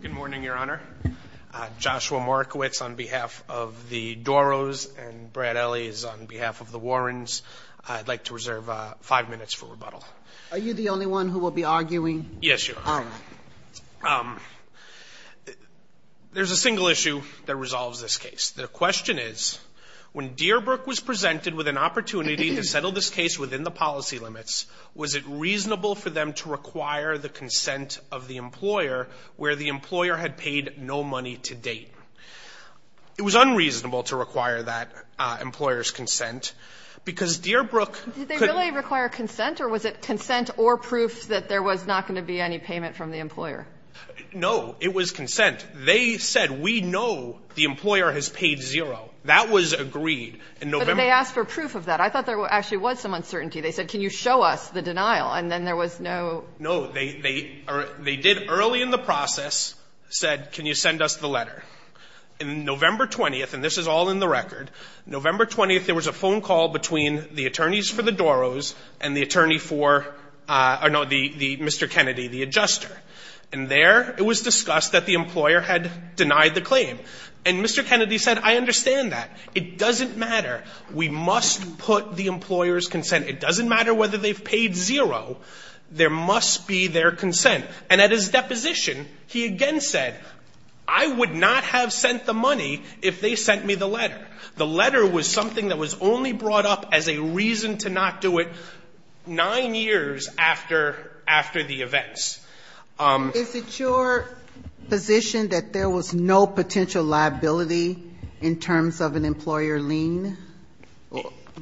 Good morning, Your Honor. Joshua Morikowicz on behalf of the Dorrohs and Brad Elley on behalf of the Warrens. I'd like to reserve five minutes for rebuttal. Are you the only one who will be arguing? Yes, Your Honor. There's a single issue that resolves this case. The question is, when Deerbrook was presented with an opportunity to settle this case within the policy limits, was it reasonable for them to require the consent of the employer where the employer had paid no money to date? It was unreasonable to require that employer's consent, because Deerbrook could not Did they really require consent, or was it consent or proof that there was not going to be any payment from the employer? No. It was consent. They said, we know the employer has paid zero. That was agreed in November. But they asked for proof of that. I thought there actually was some uncertainty. They said, can you show us the denial, and then there was no No. They did, early in the process, said, can you send us the letter. In November 20th, and this is all in the record, November 20th, there was a phone call between the attorneys for the Dorrohs and the attorney for Mr. Kennedy, the adjuster. And there it was discussed that the employer had denied the claim. And Mr. Kennedy said, I understand that. It doesn't matter. We must put the employer's consent. It doesn't matter whether they've paid zero. There must be their consent. And at his deposition, he again said, I would not have sent the money if they sent me the letter. The letter was something that was only brought up as a reason to not do it nine years after the events. Is it your position that there was no potential liability in terms of an employer lien?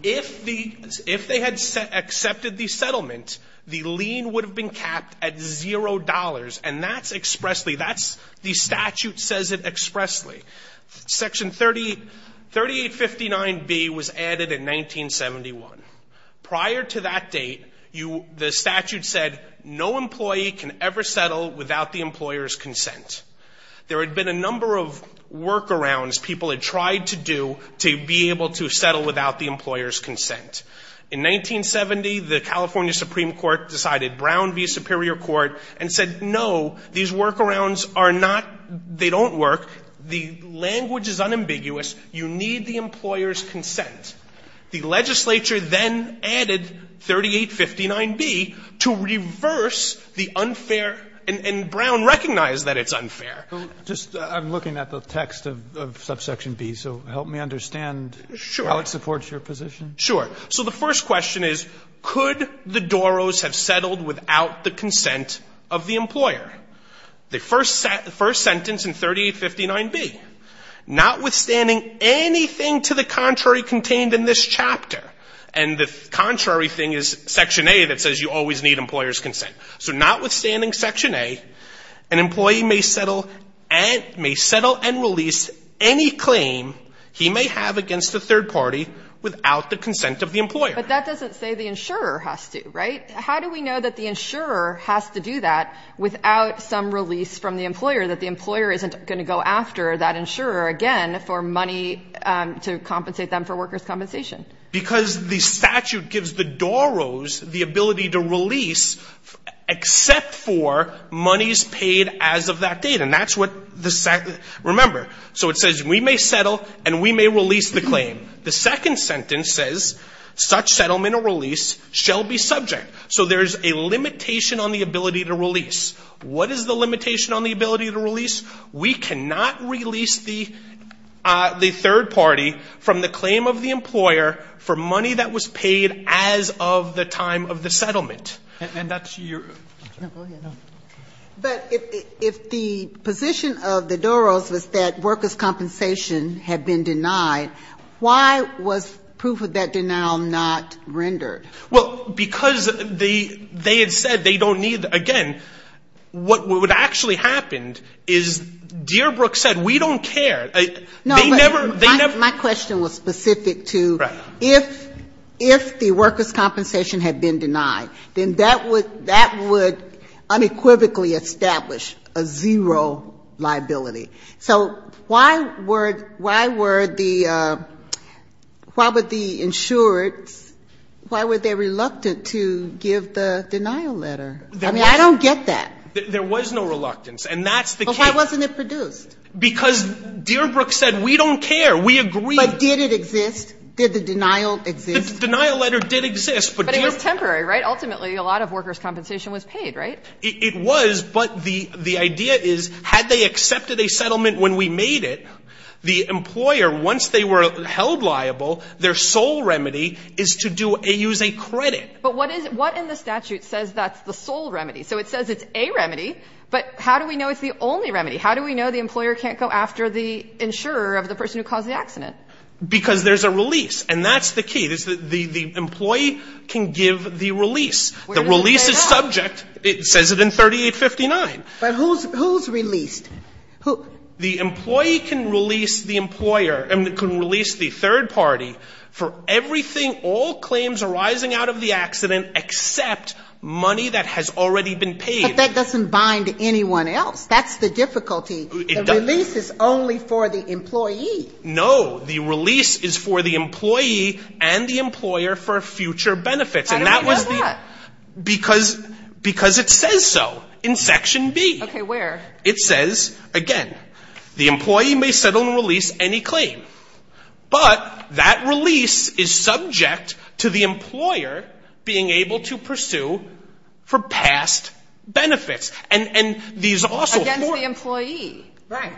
If they had accepted the settlement, the lien would have been capped at zero dollars, and that's expressly, that's, the statute says it expressly. Section 3859B was added in 1971. Prior to that date, the statute said, no employee can ever settle without the employer's consent. There had been a number of workarounds people had tried to do to be able to settle without the employer's consent. In 1970, the California Supreme Court decided Brown v. Superior Court and said, no, these workarounds are not, they don't work. The language is unambiguous. You need the employer's consent. The legislature then added 3859B to reverse the unfair, and Brown recognized that it's unfair. I'm looking at the text of subsection B, so help me understand how it supports your position. Sure. So the first question is, could the Doros have settled without the consent of the employer? The first sentence in 3859B, notwithstanding anything to the contrary contained in this chapter, and the contrary thing is section A that says you always need employer's consent. So notwithstanding section A, an employee may settle and release any claim he may have against a third party without the consent of the employer. But that doesn't say the insurer has to, right? How do we know that the insurer has to do that without some release from the employer, that the employer isn't going to go after that insurer again for money to compensate them for workers' compensation? Because the statute gives the Doros the ability to release except for monies paid as of that date. And that's what the statute – remember, so it says we may settle and we may release the claim. The second sentence says such settlement or release shall be subject. So there is a limitation on the ability to release. We cannot release the third party from the claim of the employer for money that was paid as of the time of the settlement. And that's your – No, go ahead. No. But if the position of the Doros was that workers' compensation had been denied, why was proof of that denial not rendered? Well, because they had said they don't need – again, what would have actually happened is Deerbrook said we don't care. They never – No, but my question was specific to if the workers' compensation had been denied, then that would unequivocally establish a zero liability. So why were the – why would the insurance – why were they reluctant to give the denial letter? I mean, I don't get that. There was no reluctance. And that's the case. But why wasn't it produced? Because Deerbrook said we don't care. We agree. But did it exist? Did the denial exist? The denial letter did exist. But it was temporary, right? Ultimately, a lot of workers' compensation was paid, right? It was. But the idea is had they accepted a settlement when we made it, the employer, once they were held liable, their sole remedy is to do – use a credit. But what is – what in the statute says that's the sole remedy? So it says it's a remedy, but how do we know it's the only remedy? How do we know the employer can't go after the insurer of the person who caused the accident? Because there's a release. And that's the key. The employee can give the release. The release is subject. It says it in 3859. But who's released? The employee can release the employer and can release the third party for everything, all claims arising out of the accident except money that has already been paid. But that doesn't bind anyone else. That's the difficulty. The release is only for the employee. No. The release is for the employee and the employer for future benefits. How do we know that? Because it says so in Section B. Okay. Where? It says, again, the employee may settle and release any claim. But that release is subject to the employer being able to pursue for past benefits. And these also – Against the employee. Right.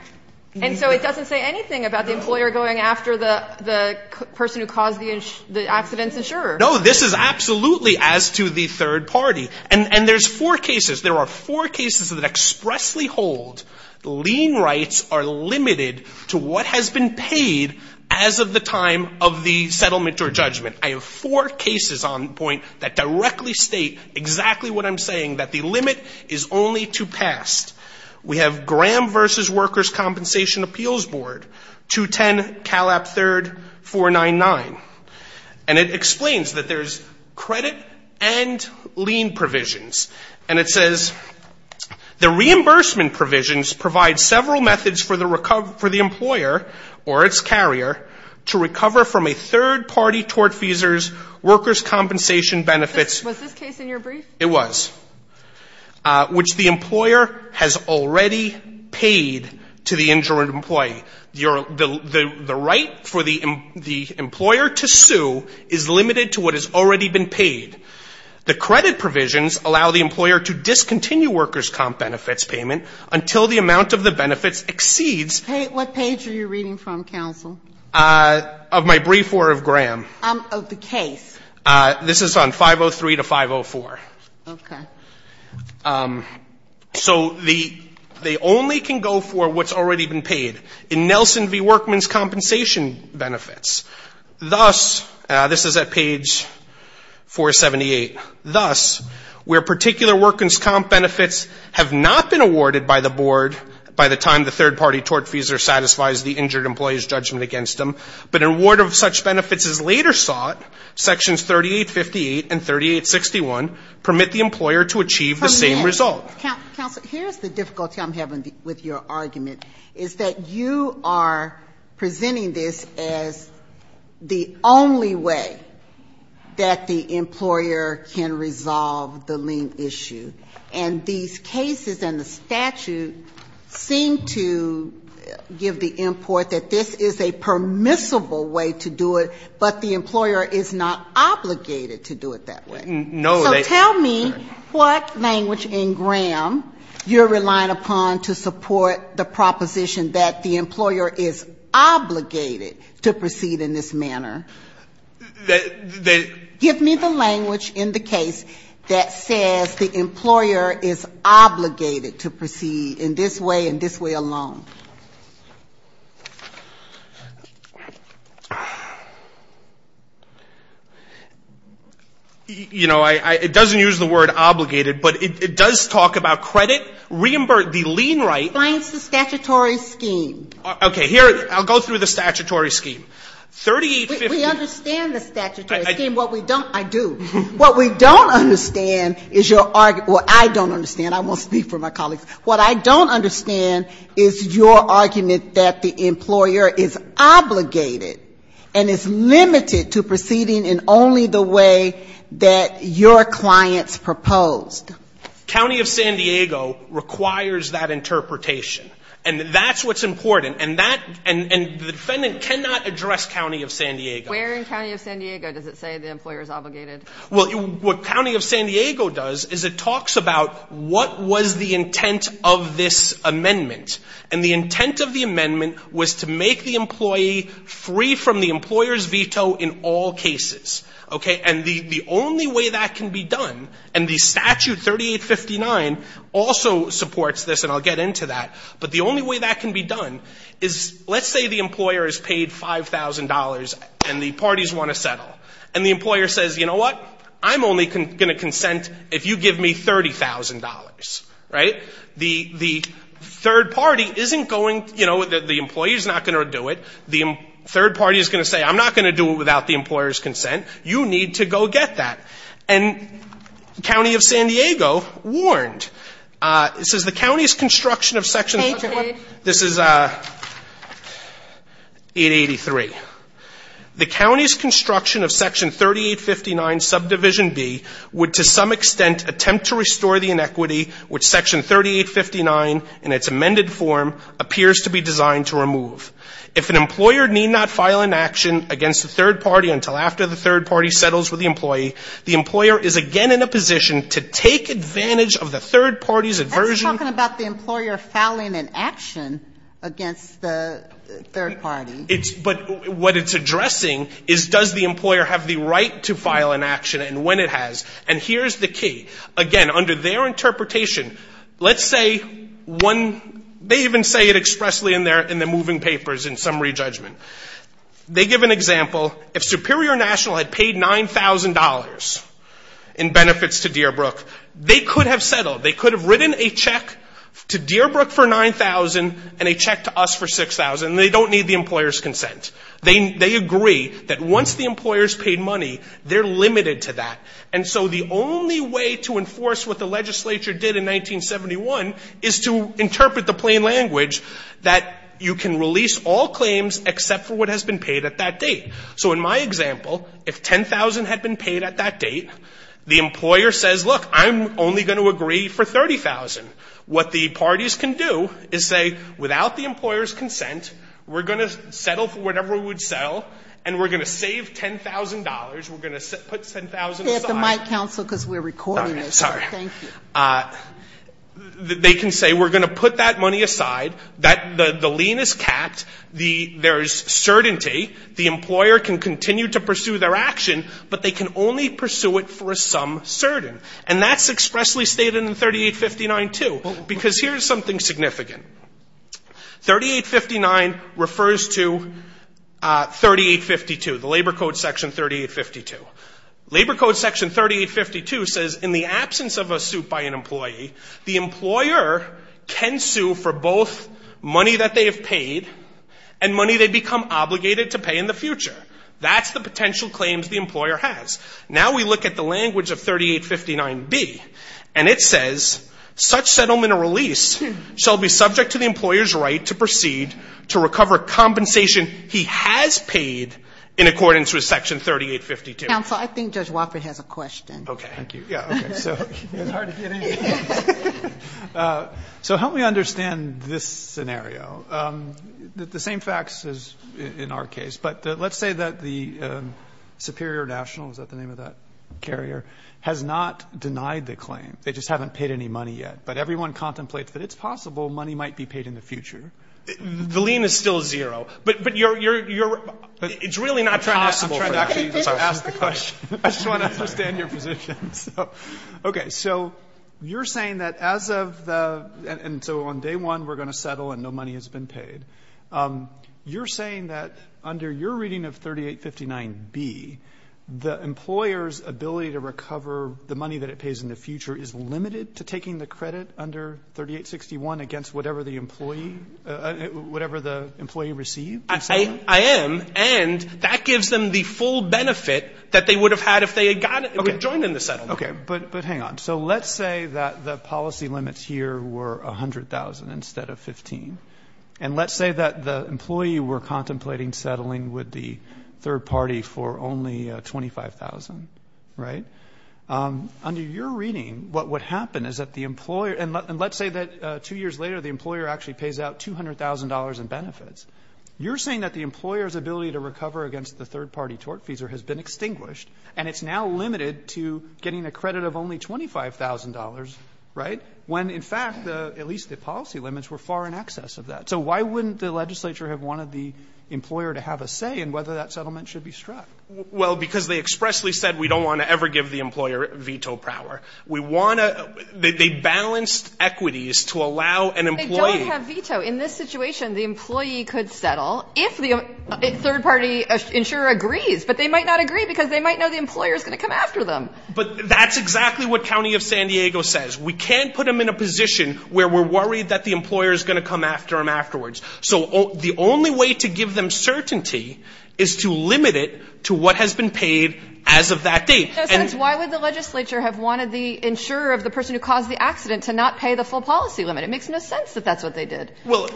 And so it doesn't say anything about the employer going after the person who caused the accident's insurer. No, this is absolutely as to the third party. And there's four cases. There are four cases that expressly hold the lien rights are limited to what has been paid as of the time of the settlement or judgment. I have four cases on point that directly state exactly what I'm saying, that the limit is only to past. We have Graham v. Workers' Compensation Appeals Board, 210 Calap 3rd, 499. And it explains that there's credit and lien provisions. And it says, the reimbursement provisions provide several methods for the employer or its carrier to recover from a third-party tort fees or workers' compensation benefits. Was this case in your brief? It was. Which the employer has already paid to the injured employee. The right for the employer to sue is limited to what has already been paid. The credit provisions allow the employer to discontinue workers' comp benefits payment until the amount of the benefits exceeds – What page are you reading from, counsel? Of my brief or of Graham. Of the case. This is on 503 to 504. Okay. So they only can go for what's already been paid. In Nelson v. Workmen's Compensation Benefits, thus – this is at page 478 – thus, where particular workers' comp benefits have not been awarded by the board by the time the third-party tort fees or satisfies the injured employee's judgment against them, but an award of such benefits is later sought, sections 3858 and 3861 permit the employer to achieve the same result. Permit. Counsel, here's the difficulty I'm having with your argument, is that you are presenting this as the only way that the employer can resolve the lien issue. And these cases and the statute seem to give the import that this is a permissible way to do it, but the employer is not obligated to do it that way. No, they – So tell me what language in Graham you're relying upon to support the proposition that the employer is obligated to proceed in this manner. They – Give me the language in the case that says the employer is obligated to proceed in this way and this way alone. You know, I – it doesn't use the word obligated, but it does talk about credit, reimburse – the lien right. It explains the statutory scheme. Okay. Here – I'll go through the statutory scheme. 3850 – We understand the statutory scheme. What we don't – I do. What we don't understand is your – well, I don't understand. I won't speak for my colleagues. What I don't understand is your argument that the employer is obligated and is limited to proceeding in only the way that your clients proposed. County of San Diego requires that interpretation, and that's what's important. And that – and the defendant cannot address County of San Diego. Where in County of San Diego does it say the employer is obligated? Well, what County of San Diego does is it talks about what was the intent of this amendment. And the intent of the amendment was to make the employee free from the employer's veto in all cases. Okay. And the only way that can be done – and the statute 3859 also supports this, and I'll get into that. But the only way that can be done is let's say the employer is paid $5,000 and the parties want to settle. And the employer says, you know what, I'm only going to consent if you give me $30,000. Right? The third party isn't going – you know, the employee is not going to do it. The third party is going to say, I'm not going to do it without the employer's consent. You need to go get that. And County of San Diego warned. It says the county's construction of section – Okay. This is 883. The county's construction of section 3859 subdivision B would to some extent attempt to restore the inequity which section 3859 in its amended form appears to be designed to remove. If an employer need not file an action against the third party until after the third party settles with the employee, the employer is again in a position to take advantage of the third party's aversion. That's talking about the employer filing an action against the third party. But what it's addressing is does the employer have the right to file an action and when it has. And here's the key. Again, under their interpretation, let's say one – they even say it expressly in the moving papers in summary judgment. They give an example. If Superior National had paid $9,000 in benefits to Deerbrook, they could have settled. They could have written a check to Deerbrook for $9,000 and a check to us for $6,000. They don't need the employer's consent. They agree that once the employer's paid money, they're limited to that. And so the only way to enforce what the legislature did in 1971 is to interpret the plain language that you can release all claims except for what has been paid at that date. So in my example, if $10,000 had been paid at that date, the employer says, look, I'm only going to agree for $30,000. What the parties can do is say, without the employer's consent, we're going to settle for whatever we would sell and we're going to save $10,000. We're going to put $10,000 aside. Sotomayor, because we're recording this. Thank you. They can say we're going to put that money aside. The lien is capped. There is certainty. The employer can continue to pursue their action, but they can only pursue it for a sum certain. And that's expressly stated in 3859 too, because here's something significant. 3859 refers to 3852, the Labor Code section 3852. Labor Code section 3852 says in the absence of a suit by an employee, the employer can sue for both money that they have paid and money they become obligated to pay in the future. That's the potential claims the employer has. Now we look at the language of 3859B, and it says such settlement or release shall be subject to the employer's right to proceed to recover compensation he has paid in accordance with Section 3852. Counsel, I think Judge Wofford has a question. Okay. Thank you. Yeah, okay. So help me understand this scenario. The same facts as in our case. But let's say that the Superior National, is that the name of that carrier, has not denied the claim. They just haven't paid any money yet. But everyone contemplates that it's possible money might be paid in the future. The lien is still zero. But you're really not trying to actually ask the question. I just want to understand your position. Okay. So you're saying that as of the, and so on day one we're going to settle and no money has been paid. You're saying that under your reading of 3859B, the employer's ability to recover the money that it pays in the future is limited to taking the credit under 3861 against whatever the employee, whatever the employee received? I am. And that gives them the full benefit that they would have had if they had joined in the settlement. Okay. But hang on. So let's say that the policy limits here were $100,000 instead of $15,000. And let's say that the employee were contemplating settling with the third party for only $25,000, right? Under your reading, what would happen is that the employer, and let's say that two years later the employer actually pays out $200,000 in benefits. You're saying that the employer's ability to recover against the third party tort fees has been extinguished and it's now limited to getting a credit of only $25,000, right? When in fact, at least the policy limits were far in excess of that. So why wouldn't the legislature have wanted the employer to have a say in whether that settlement should be struck? Well, because they expressly said we don't want to ever give the employer veto power. We want to, they balanced equities to allow an employee. They don't have veto. In this situation, the employee could settle if the third party insurer agrees. But they might not agree because they might know the employer's going to come after them. But that's exactly what County of San Diego says. We can't put them in a position where we're worried that the employer's going to come after them afterwards. So the only way to give them certainty is to limit it to what has been paid as of that date. Why would the legislature have wanted the insurer of the person who caused the accident to not pay the full policy limit? It makes no sense that that's what they did. Well,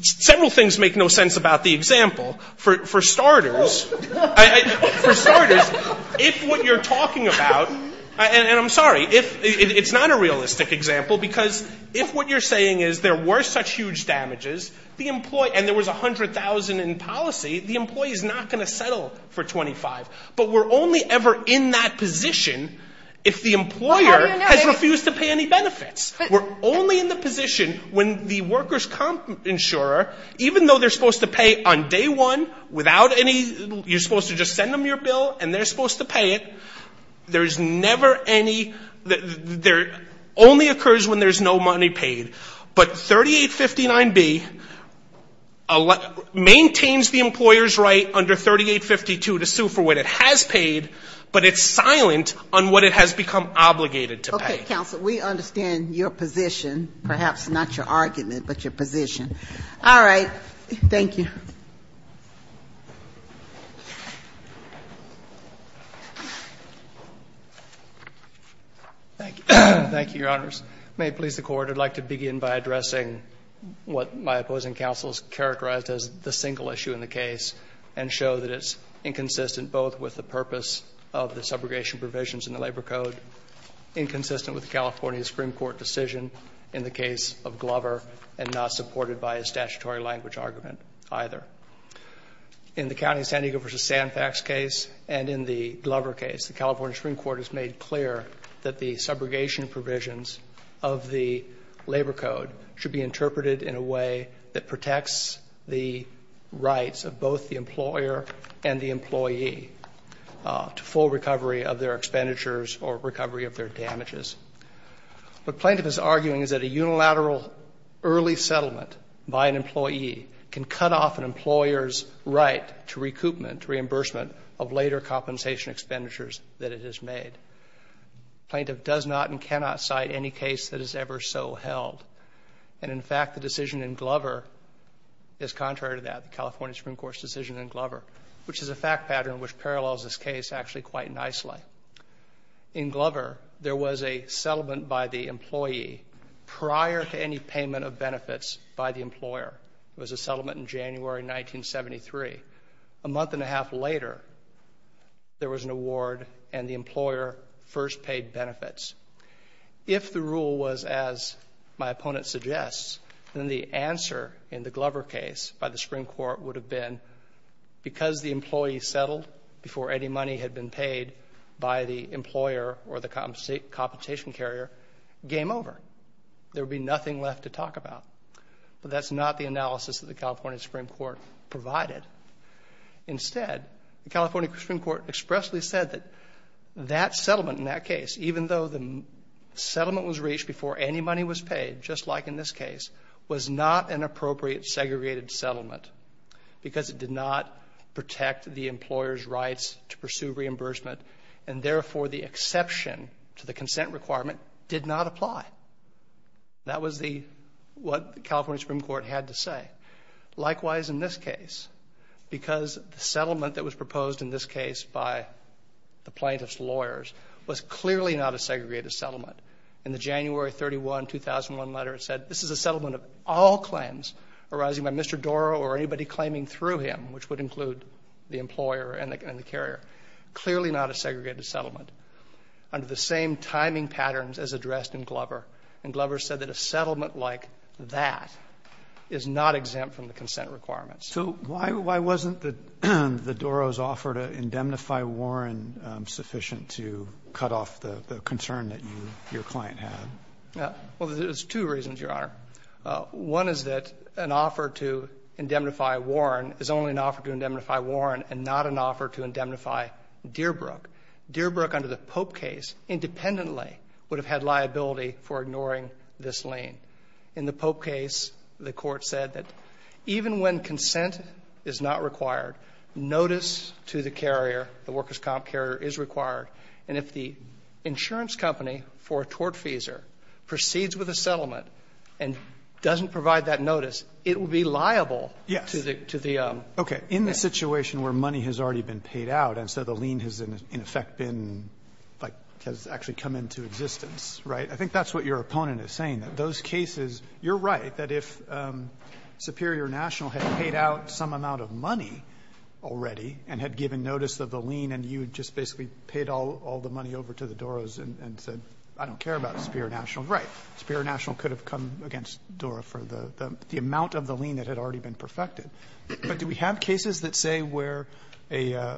several things make no sense about the example. For starters, if what you're talking about, and I'm sorry, it's not a realistic example, because if what you're saying is there were such huge damages and there was $100,000 in policy, the employee's not going to settle for $25,000. But we're only ever in that position if the employer has refused to pay any benefits. We're only in the position when the workers' comp insurer, even though they're supposed to pay on day one, without any, you're supposed to just send them your bill and they're supposed to pay it, there's never any, there only occurs when there's no money paid. But 3859B maintains the employer's right under 3852 to sue for what it has paid, but it's silent on what it has become obligated to pay. Okay, counsel, we understand your position, perhaps not your argument, but your position. All right. Thank you. Thank you, Your Honors. May it please the Court, I'd like to begin by addressing what my opposing counsel has characterized as the single issue in the case and show that it's inconsistent both with the purpose of the subrogation provisions in the Labor Code, inconsistent with the California Supreme Court decision in the case of Glover, and not supported by a statutory language argument either. In the county San Diego v. Sandpax case and in the Glover case, the California Supreme Court has made clear that the subrogation provisions of the Labor Code should be interpreted in a way that protects the rights of both the employer and the employee to full recovery of their expenditures or recovery of their damages. What plaintiff is arguing is that a unilateral early settlement by an employee can cut off an employer's right to recoupment, reimbursement of later compensation expenditures that it has made. Plaintiff does not and cannot cite any case that is ever so held. And, in fact, the decision in Glover is contrary to that, the California Supreme Court's decision in Glover, which is a fact pattern which parallels this case actually quite nicely. In Glover, there was a settlement by the employee prior to any payment of benefits by the employer. It was a settlement in January 1973. A month and a half later, there was an award and the employer first paid benefits. If the rule was as my opponent suggests, then the answer in the Glover case by the Supreme Court would have been because the employee settled before any money had been paid by the employer or the compensation carrier, game over. There would be nothing left to talk about. But that's not the analysis that the California Supreme Court provided. Instead, the California Supreme Court expressly said that that settlement in that case, even though the settlement was reached before any money was paid, just like in this case, was not an appropriate segregated settlement because it did not protect the employer's rights to pursue reimbursement and, therefore, the exception to the consent requirement did not apply. That was what the California Supreme Court had to say. Likewise, in this case, because the settlement that was proposed in this case by the plaintiff's lawyers was clearly not a segregated settlement. In the January 31, 2001 letter, it said this is a settlement of all claims arising by Mr. Dora or anybody claiming through him, which would include the employer and the carrier. Clearly not a segregated settlement. Under the same timing patterns as addressed in Glover, and Glover said that a settlement like that is not exempt from the consent requirements. So why wasn't the Dora's offer to indemnify Warren sufficient to cut off the concern that your client had? Well, there's two reasons, Your Honor. One is that an offer to indemnify Warren is only an offer to indemnify Warren and not an offer to indemnify Dearbrook. Dearbrook, under the Pope case, independently would have had liability for ignoring this lien. In the Pope case, the Court said that even when consent is not required, notice to the carrier, the workers' comp carrier, is required. And if the insurance company for a tortfeasor proceeds with a settlement and doesn't provide that notice, it will be liable to the owner. Yes. Okay. In the situation where money has already been paid out and so the lien has, in effect, been, like, has actually come into existence, right? I think that's what your opponent is saying, that those cases, you're right, that if Superior National had paid out some amount of money already and had given notice of the lien and you had just basically paid all the money over to the Dora's and said, I don't care about Superior National, right, Superior National could have come against Dora for the amount of the lien that had already been perfected. But do we have cases that say where a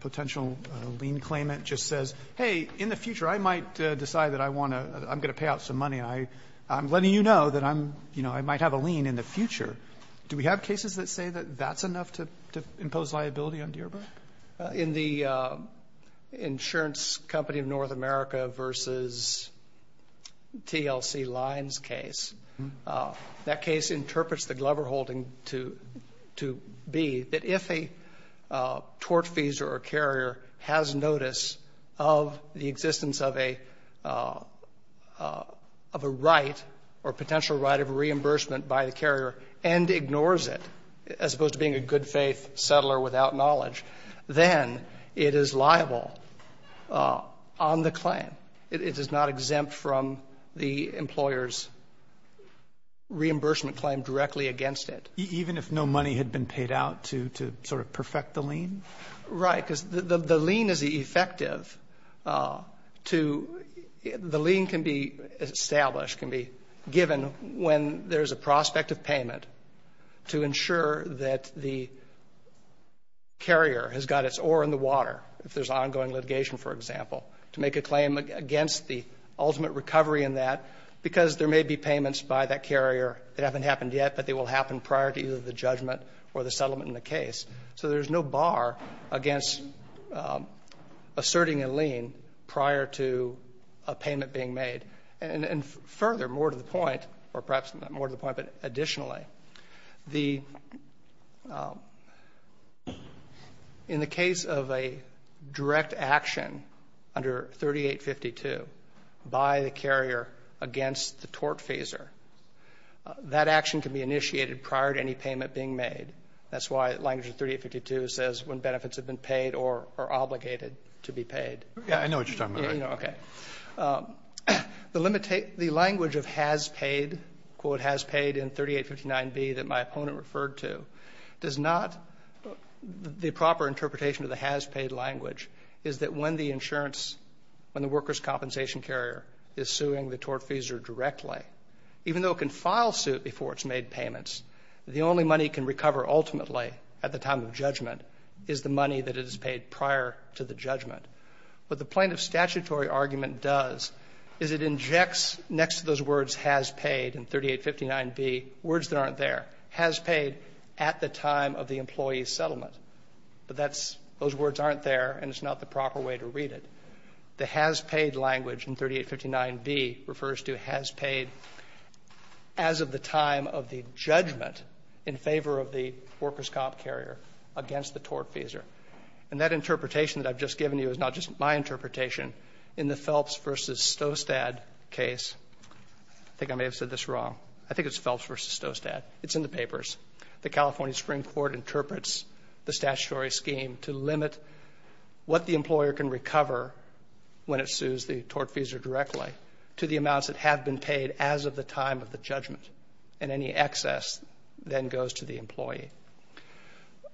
potential lien claimant just says, hey, in the future, I might decide that I want to, I'm going to pay out some money. I'm letting you know that I'm, you know, I might have a lien in the future. Do we have cases that say that that's enough to impose liability on Dearborn? In the insurance company of North America versus TLC Lines case, that case interprets the Glover holding to be that if a tortfeasor or carrier has notice of the existence of a right or potential right of reimbursement by the carrier and ignores it, as opposed to being a good-faith settler without knowledge, then it is liable on the claim. It is not exempt from the employer's reimbursement claim directly against it. Even if no money had been paid out to sort of perfect the lien? Right. Because the lien is effective to, the lien can be established, can be given when there is a prospect of payment to ensure that the carrier has got its oar in the water, if there's ongoing litigation, for example, to make a claim against the ultimate recovery in that, because there may be payments by that carrier that haven't happened yet, but they will happen prior to either the judgment or the settlement in the case. So there's no bar against asserting a lien prior to a payment being made. And further, more to the point, or perhaps not more to the point, but additionally, the, in the case of a direct action under 3852 by the carrier against the tort phaser, that action can be initiated prior to any payment being made. That's why language of 3852 says when benefits have been paid or are obligated to be paid. Yeah, I know what you're talking about. Okay. The language of has paid, quote, has paid in 3859B that my opponent referred to, does not, the proper interpretation of the has paid language is that when the insurance, when the worker's compensation carrier is suing the tort phaser directly, even though it can file suit before it's made payments, the only money it can recover ultimately at the time of judgment is the money that it has paid prior to the judgment. What the plaintiff's statutory argument does is it injects next to those words has paid in 3859B words that aren't there. Has paid at the time of the employee's settlement. But that's, those words aren't there and it's not the proper way to read it. The has paid language in 3859B refers to has paid as of the time of the judgment in favor of the worker's comp carrier against the tort phaser. And that interpretation that I've just given you is not just my interpretation. In the Phelps versus Stostad case, I think I may have said this wrong. I think it's Phelps versus Stostad. It's in the papers. The California Supreme Court interprets the statutory scheme to limit what the employer can recover when it sues the tort phaser directly to the amounts that have been paid as of the time of the judgment. And any excess then goes to the employee.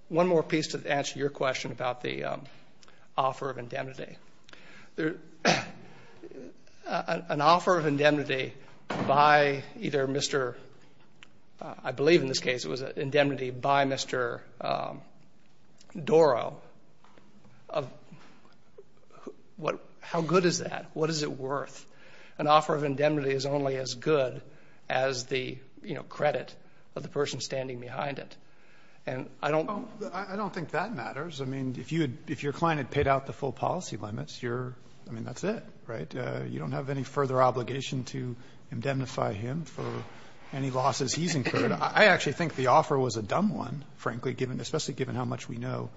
One more piece to answer your question about the offer of indemnity. An offer of indemnity by either Mr. I believe in this case it was indemnity by Mr. Doro. What is it worth? An offer of indemnity is only as good as the credit of the person standing behind it. I don't think that matters. I mean, if your client had paid out the full policy limits, I mean, that's it, right? You don't have any further obligation to indemnify him for any losses he's incurred. I actually think the offer was a dumb one, frankly, especially given how much we know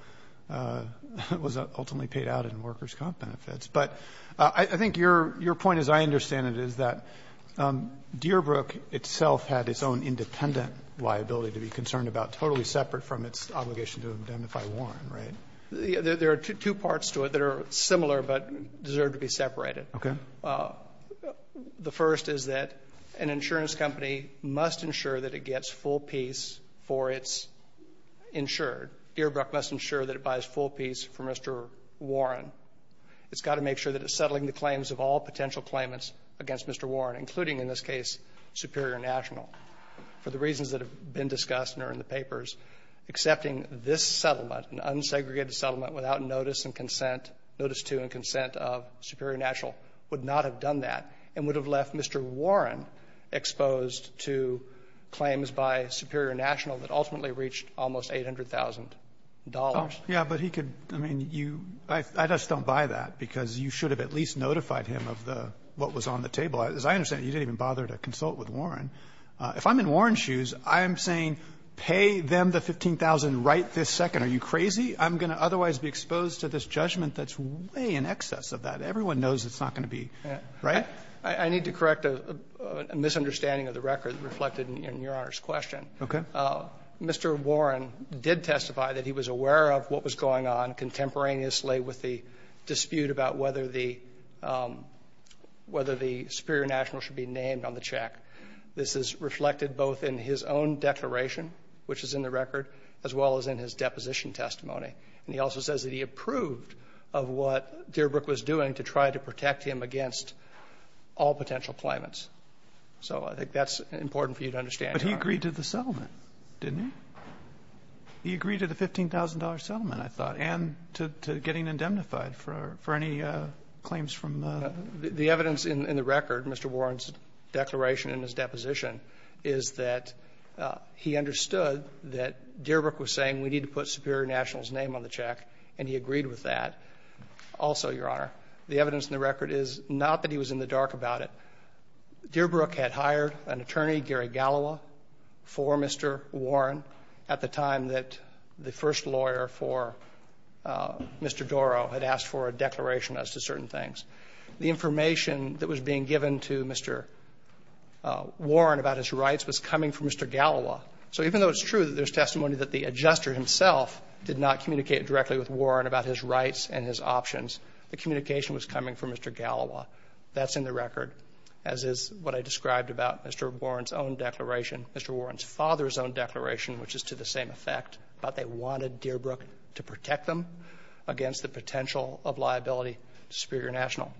was ultimately paid out in workers' comp benefits. But I think your point, as I understand it, is that Dearbrook itself had its own independent liability to be concerned about, totally separate from its obligation to indemnify Warren, right? There are two parts to it that are similar but deserve to be separated. Okay. The first is that an insurance company must ensure that it gets full piece for its insured. Dearbrook must ensure that it buys full piece for Mr. Warren. It's got to make sure that it's settling the claims of all potential claimants against Mr. Warren, including in this case Superior National. For the reasons that have been discussed and are in the papers, accepting this settlement, an unsegregated settlement without notice and consent, notice to and consent of Superior National, would not have done that and would have left Mr. Warren exposed to claims by Superior National that ultimately reached almost $800,000. Roberts. Yeah, but he could, I mean, you, I just don't buy that because you should have at least notified him of the, what was on the table. As I understand it, you didn't even bother to consult with Warren. If I'm in Warren's shoes, I'm saying pay them the $15,000 right this second. Are you crazy? I'm going to otherwise be exposed to this judgment that's way in excess of that. Everyone knows it's not going to be, right? I need to correct a misunderstanding of the record reflected in Your Honor's question. Okay. Mr. Warren did testify that he was aware of what was going on contemporaneously with the dispute about whether the, whether the Superior National should be named on the check. This is reflected both in his own declaration, which is in the record, as well as in his deposition testimony. And he also says that he approved of what Dearbrook was doing to try to protect him against all potential claimants. So I think that's important for you to understand, Your Honor. But he agreed to the settlement, didn't he? He agreed to the $15,000 settlement, I thought, and to getting indemnified for any claims from the ---- The evidence in the record, Mr. Warren's declaration in his deposition, is that he understood that Dearbrook was saying we need to put Superior National's name on the check, and he agreed with that. Also, Your Honor, the evidence in the record is not that he was in the dark about Dearbrook had hired an attorney, Gary Gallowa, for Mr. Warren at the time that the first lawyer for Mr. Dorough had asked for a declaration as to certain things. The information that was being given to Mr. Warren about his rights was coming from Mr. Gallowa. So even though it's true that there's testimony that the adjuster himself did not communicate directly with Warren about his rights and his options, the communication was coming from Mr. Gallowa. That's in the record, as is what I described about Mr. Warren's own declaration, Mr. Warren's father's own declaration, which is to the same effect, that they wanted Dearbrook to protect them against the potential of liability to Superior National.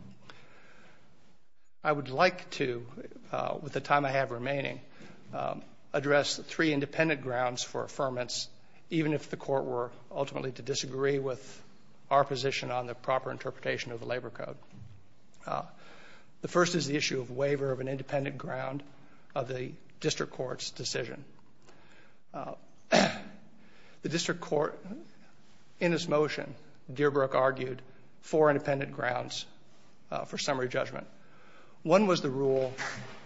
I would like to, with the time I have remaining, address three independent grounds for affirmance, even if the Court were ultimately to disagree with our position on the proper interpretation of the Labor Code. The first is the issue of waiver of an independent ground of the District Court's decision. The District Court, in its motion, Dearbrook argued four independent grounds for summary judgment. One was the rule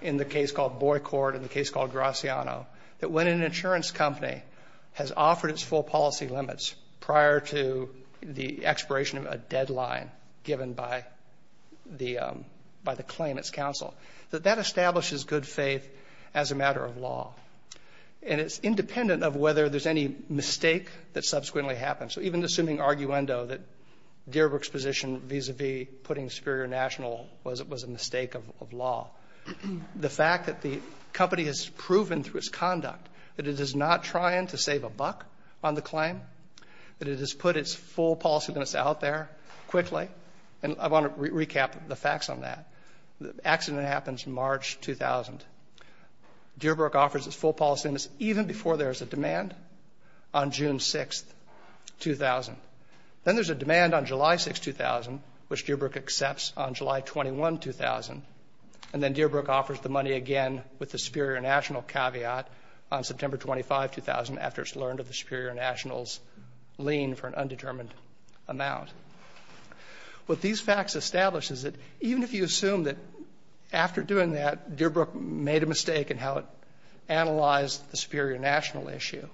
in the case called Boycourt, in the case called Graciano, that when an insurance company has offered its full policy limits prior to the expiration of a deadline given by the claim, its counsel, that that establishes good faith as a matter of law. And it's independent of whether there's any mistake that subsequently happens. So even assuming arguendo, that Dearbrook's position vis-a-vis putting Superior National was a mistake of law, the fact that the company has proven through its conduct that it is not trying to save a buck on the claim, that it has put its full policy limits out there quickly, and I want to recap the facts on that. The accident happens in March 2000. Dearbrook offers its full policy limits even before there's a demand on June 6, 2000. Then there's a demand on July 6, 2000, which Dearbrook accepts on July 21, 2000, and then Dearbrook offers the money again with the Superior National caveat on June 6, 2000. What these facts establish is that even if you assume that after doing that, Dearbrook made a mistake in how it analyzed the Superior National issue,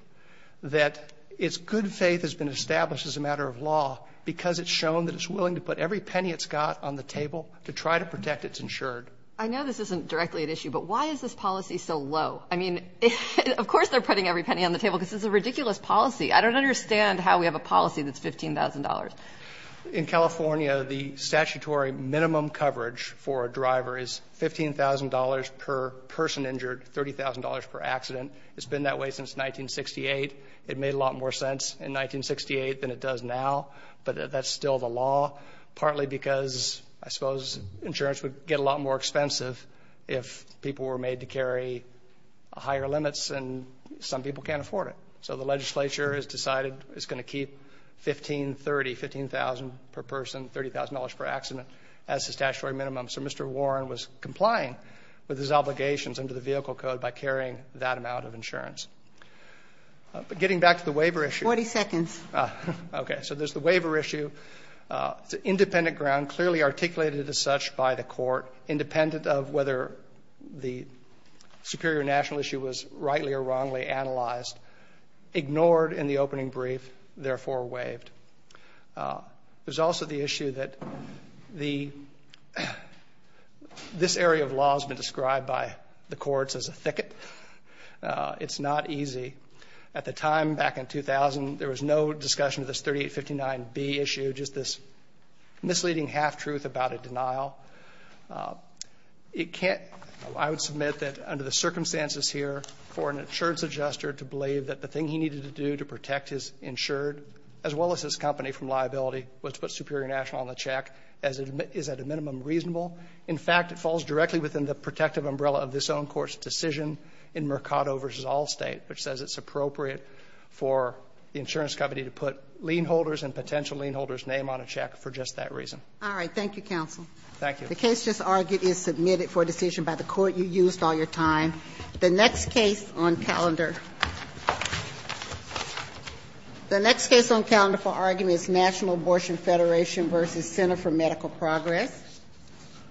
that its good faith has been established as a matter of law because it's shown that it's willing to put every penny it's got on the table to try to protect its insured. I know this isn't directly at issue, but why is this policy so low? I mean, of course they're putting every penny on the table because it's a ridiculous policy. I don't understand how we have a policy that's $15,000. In California, the statutory minimum coverage for a driver is $15,000 per person injured, $30,000 per accident. It's been that way since 1968. It made a lot more sense in 1968 than it does now, but that's still the law, partly because I suppose insurance would get a lot more expensive if people were made to carry higher limits and some people can't afford it. So the legislature has decided it's going to keep 15, 30, 15,000 per person, $30,000 per accident as the statutory minimum. So Mr. Warren was complying with his obligations under the Vehicle Code by carrying that amount of insurance. But getting back to the waiver issue. 40 seconds. Okay. So there's the waiver issue. It's an independent ground, clearly articulated as such by the court, independent of whether the Superior National issue was rightly or wrongly analyzed, ignored in the opening brief, therefore waived. There's also the issue that this area of law has been described by the courts as a thicket. It's not easy. At the time, back in 2000, there was no discussion of this 3859B issue, just this misleading half-truth about a denial. I would submit that under the circumstances here for an insurance adjuster to believe that the thing he needed to do to protect his insured, as well as his company from liability, was to put Superior National on the check is at a minimum reasonable. In fact, it falls directly within the protective umbrella of this own court's decision in Mercado v. Allstate, which says it's appropriate for the insurance company to put lien holders and potential lien holders' name on a check for just that reason. All right. Thank you, Counsel. Thank you. The case just argued is submitted for decision by the court you used all your time. The next case on calendar. The next case on calendar for argument is National Abortion Federation v. Center for Medical Progress.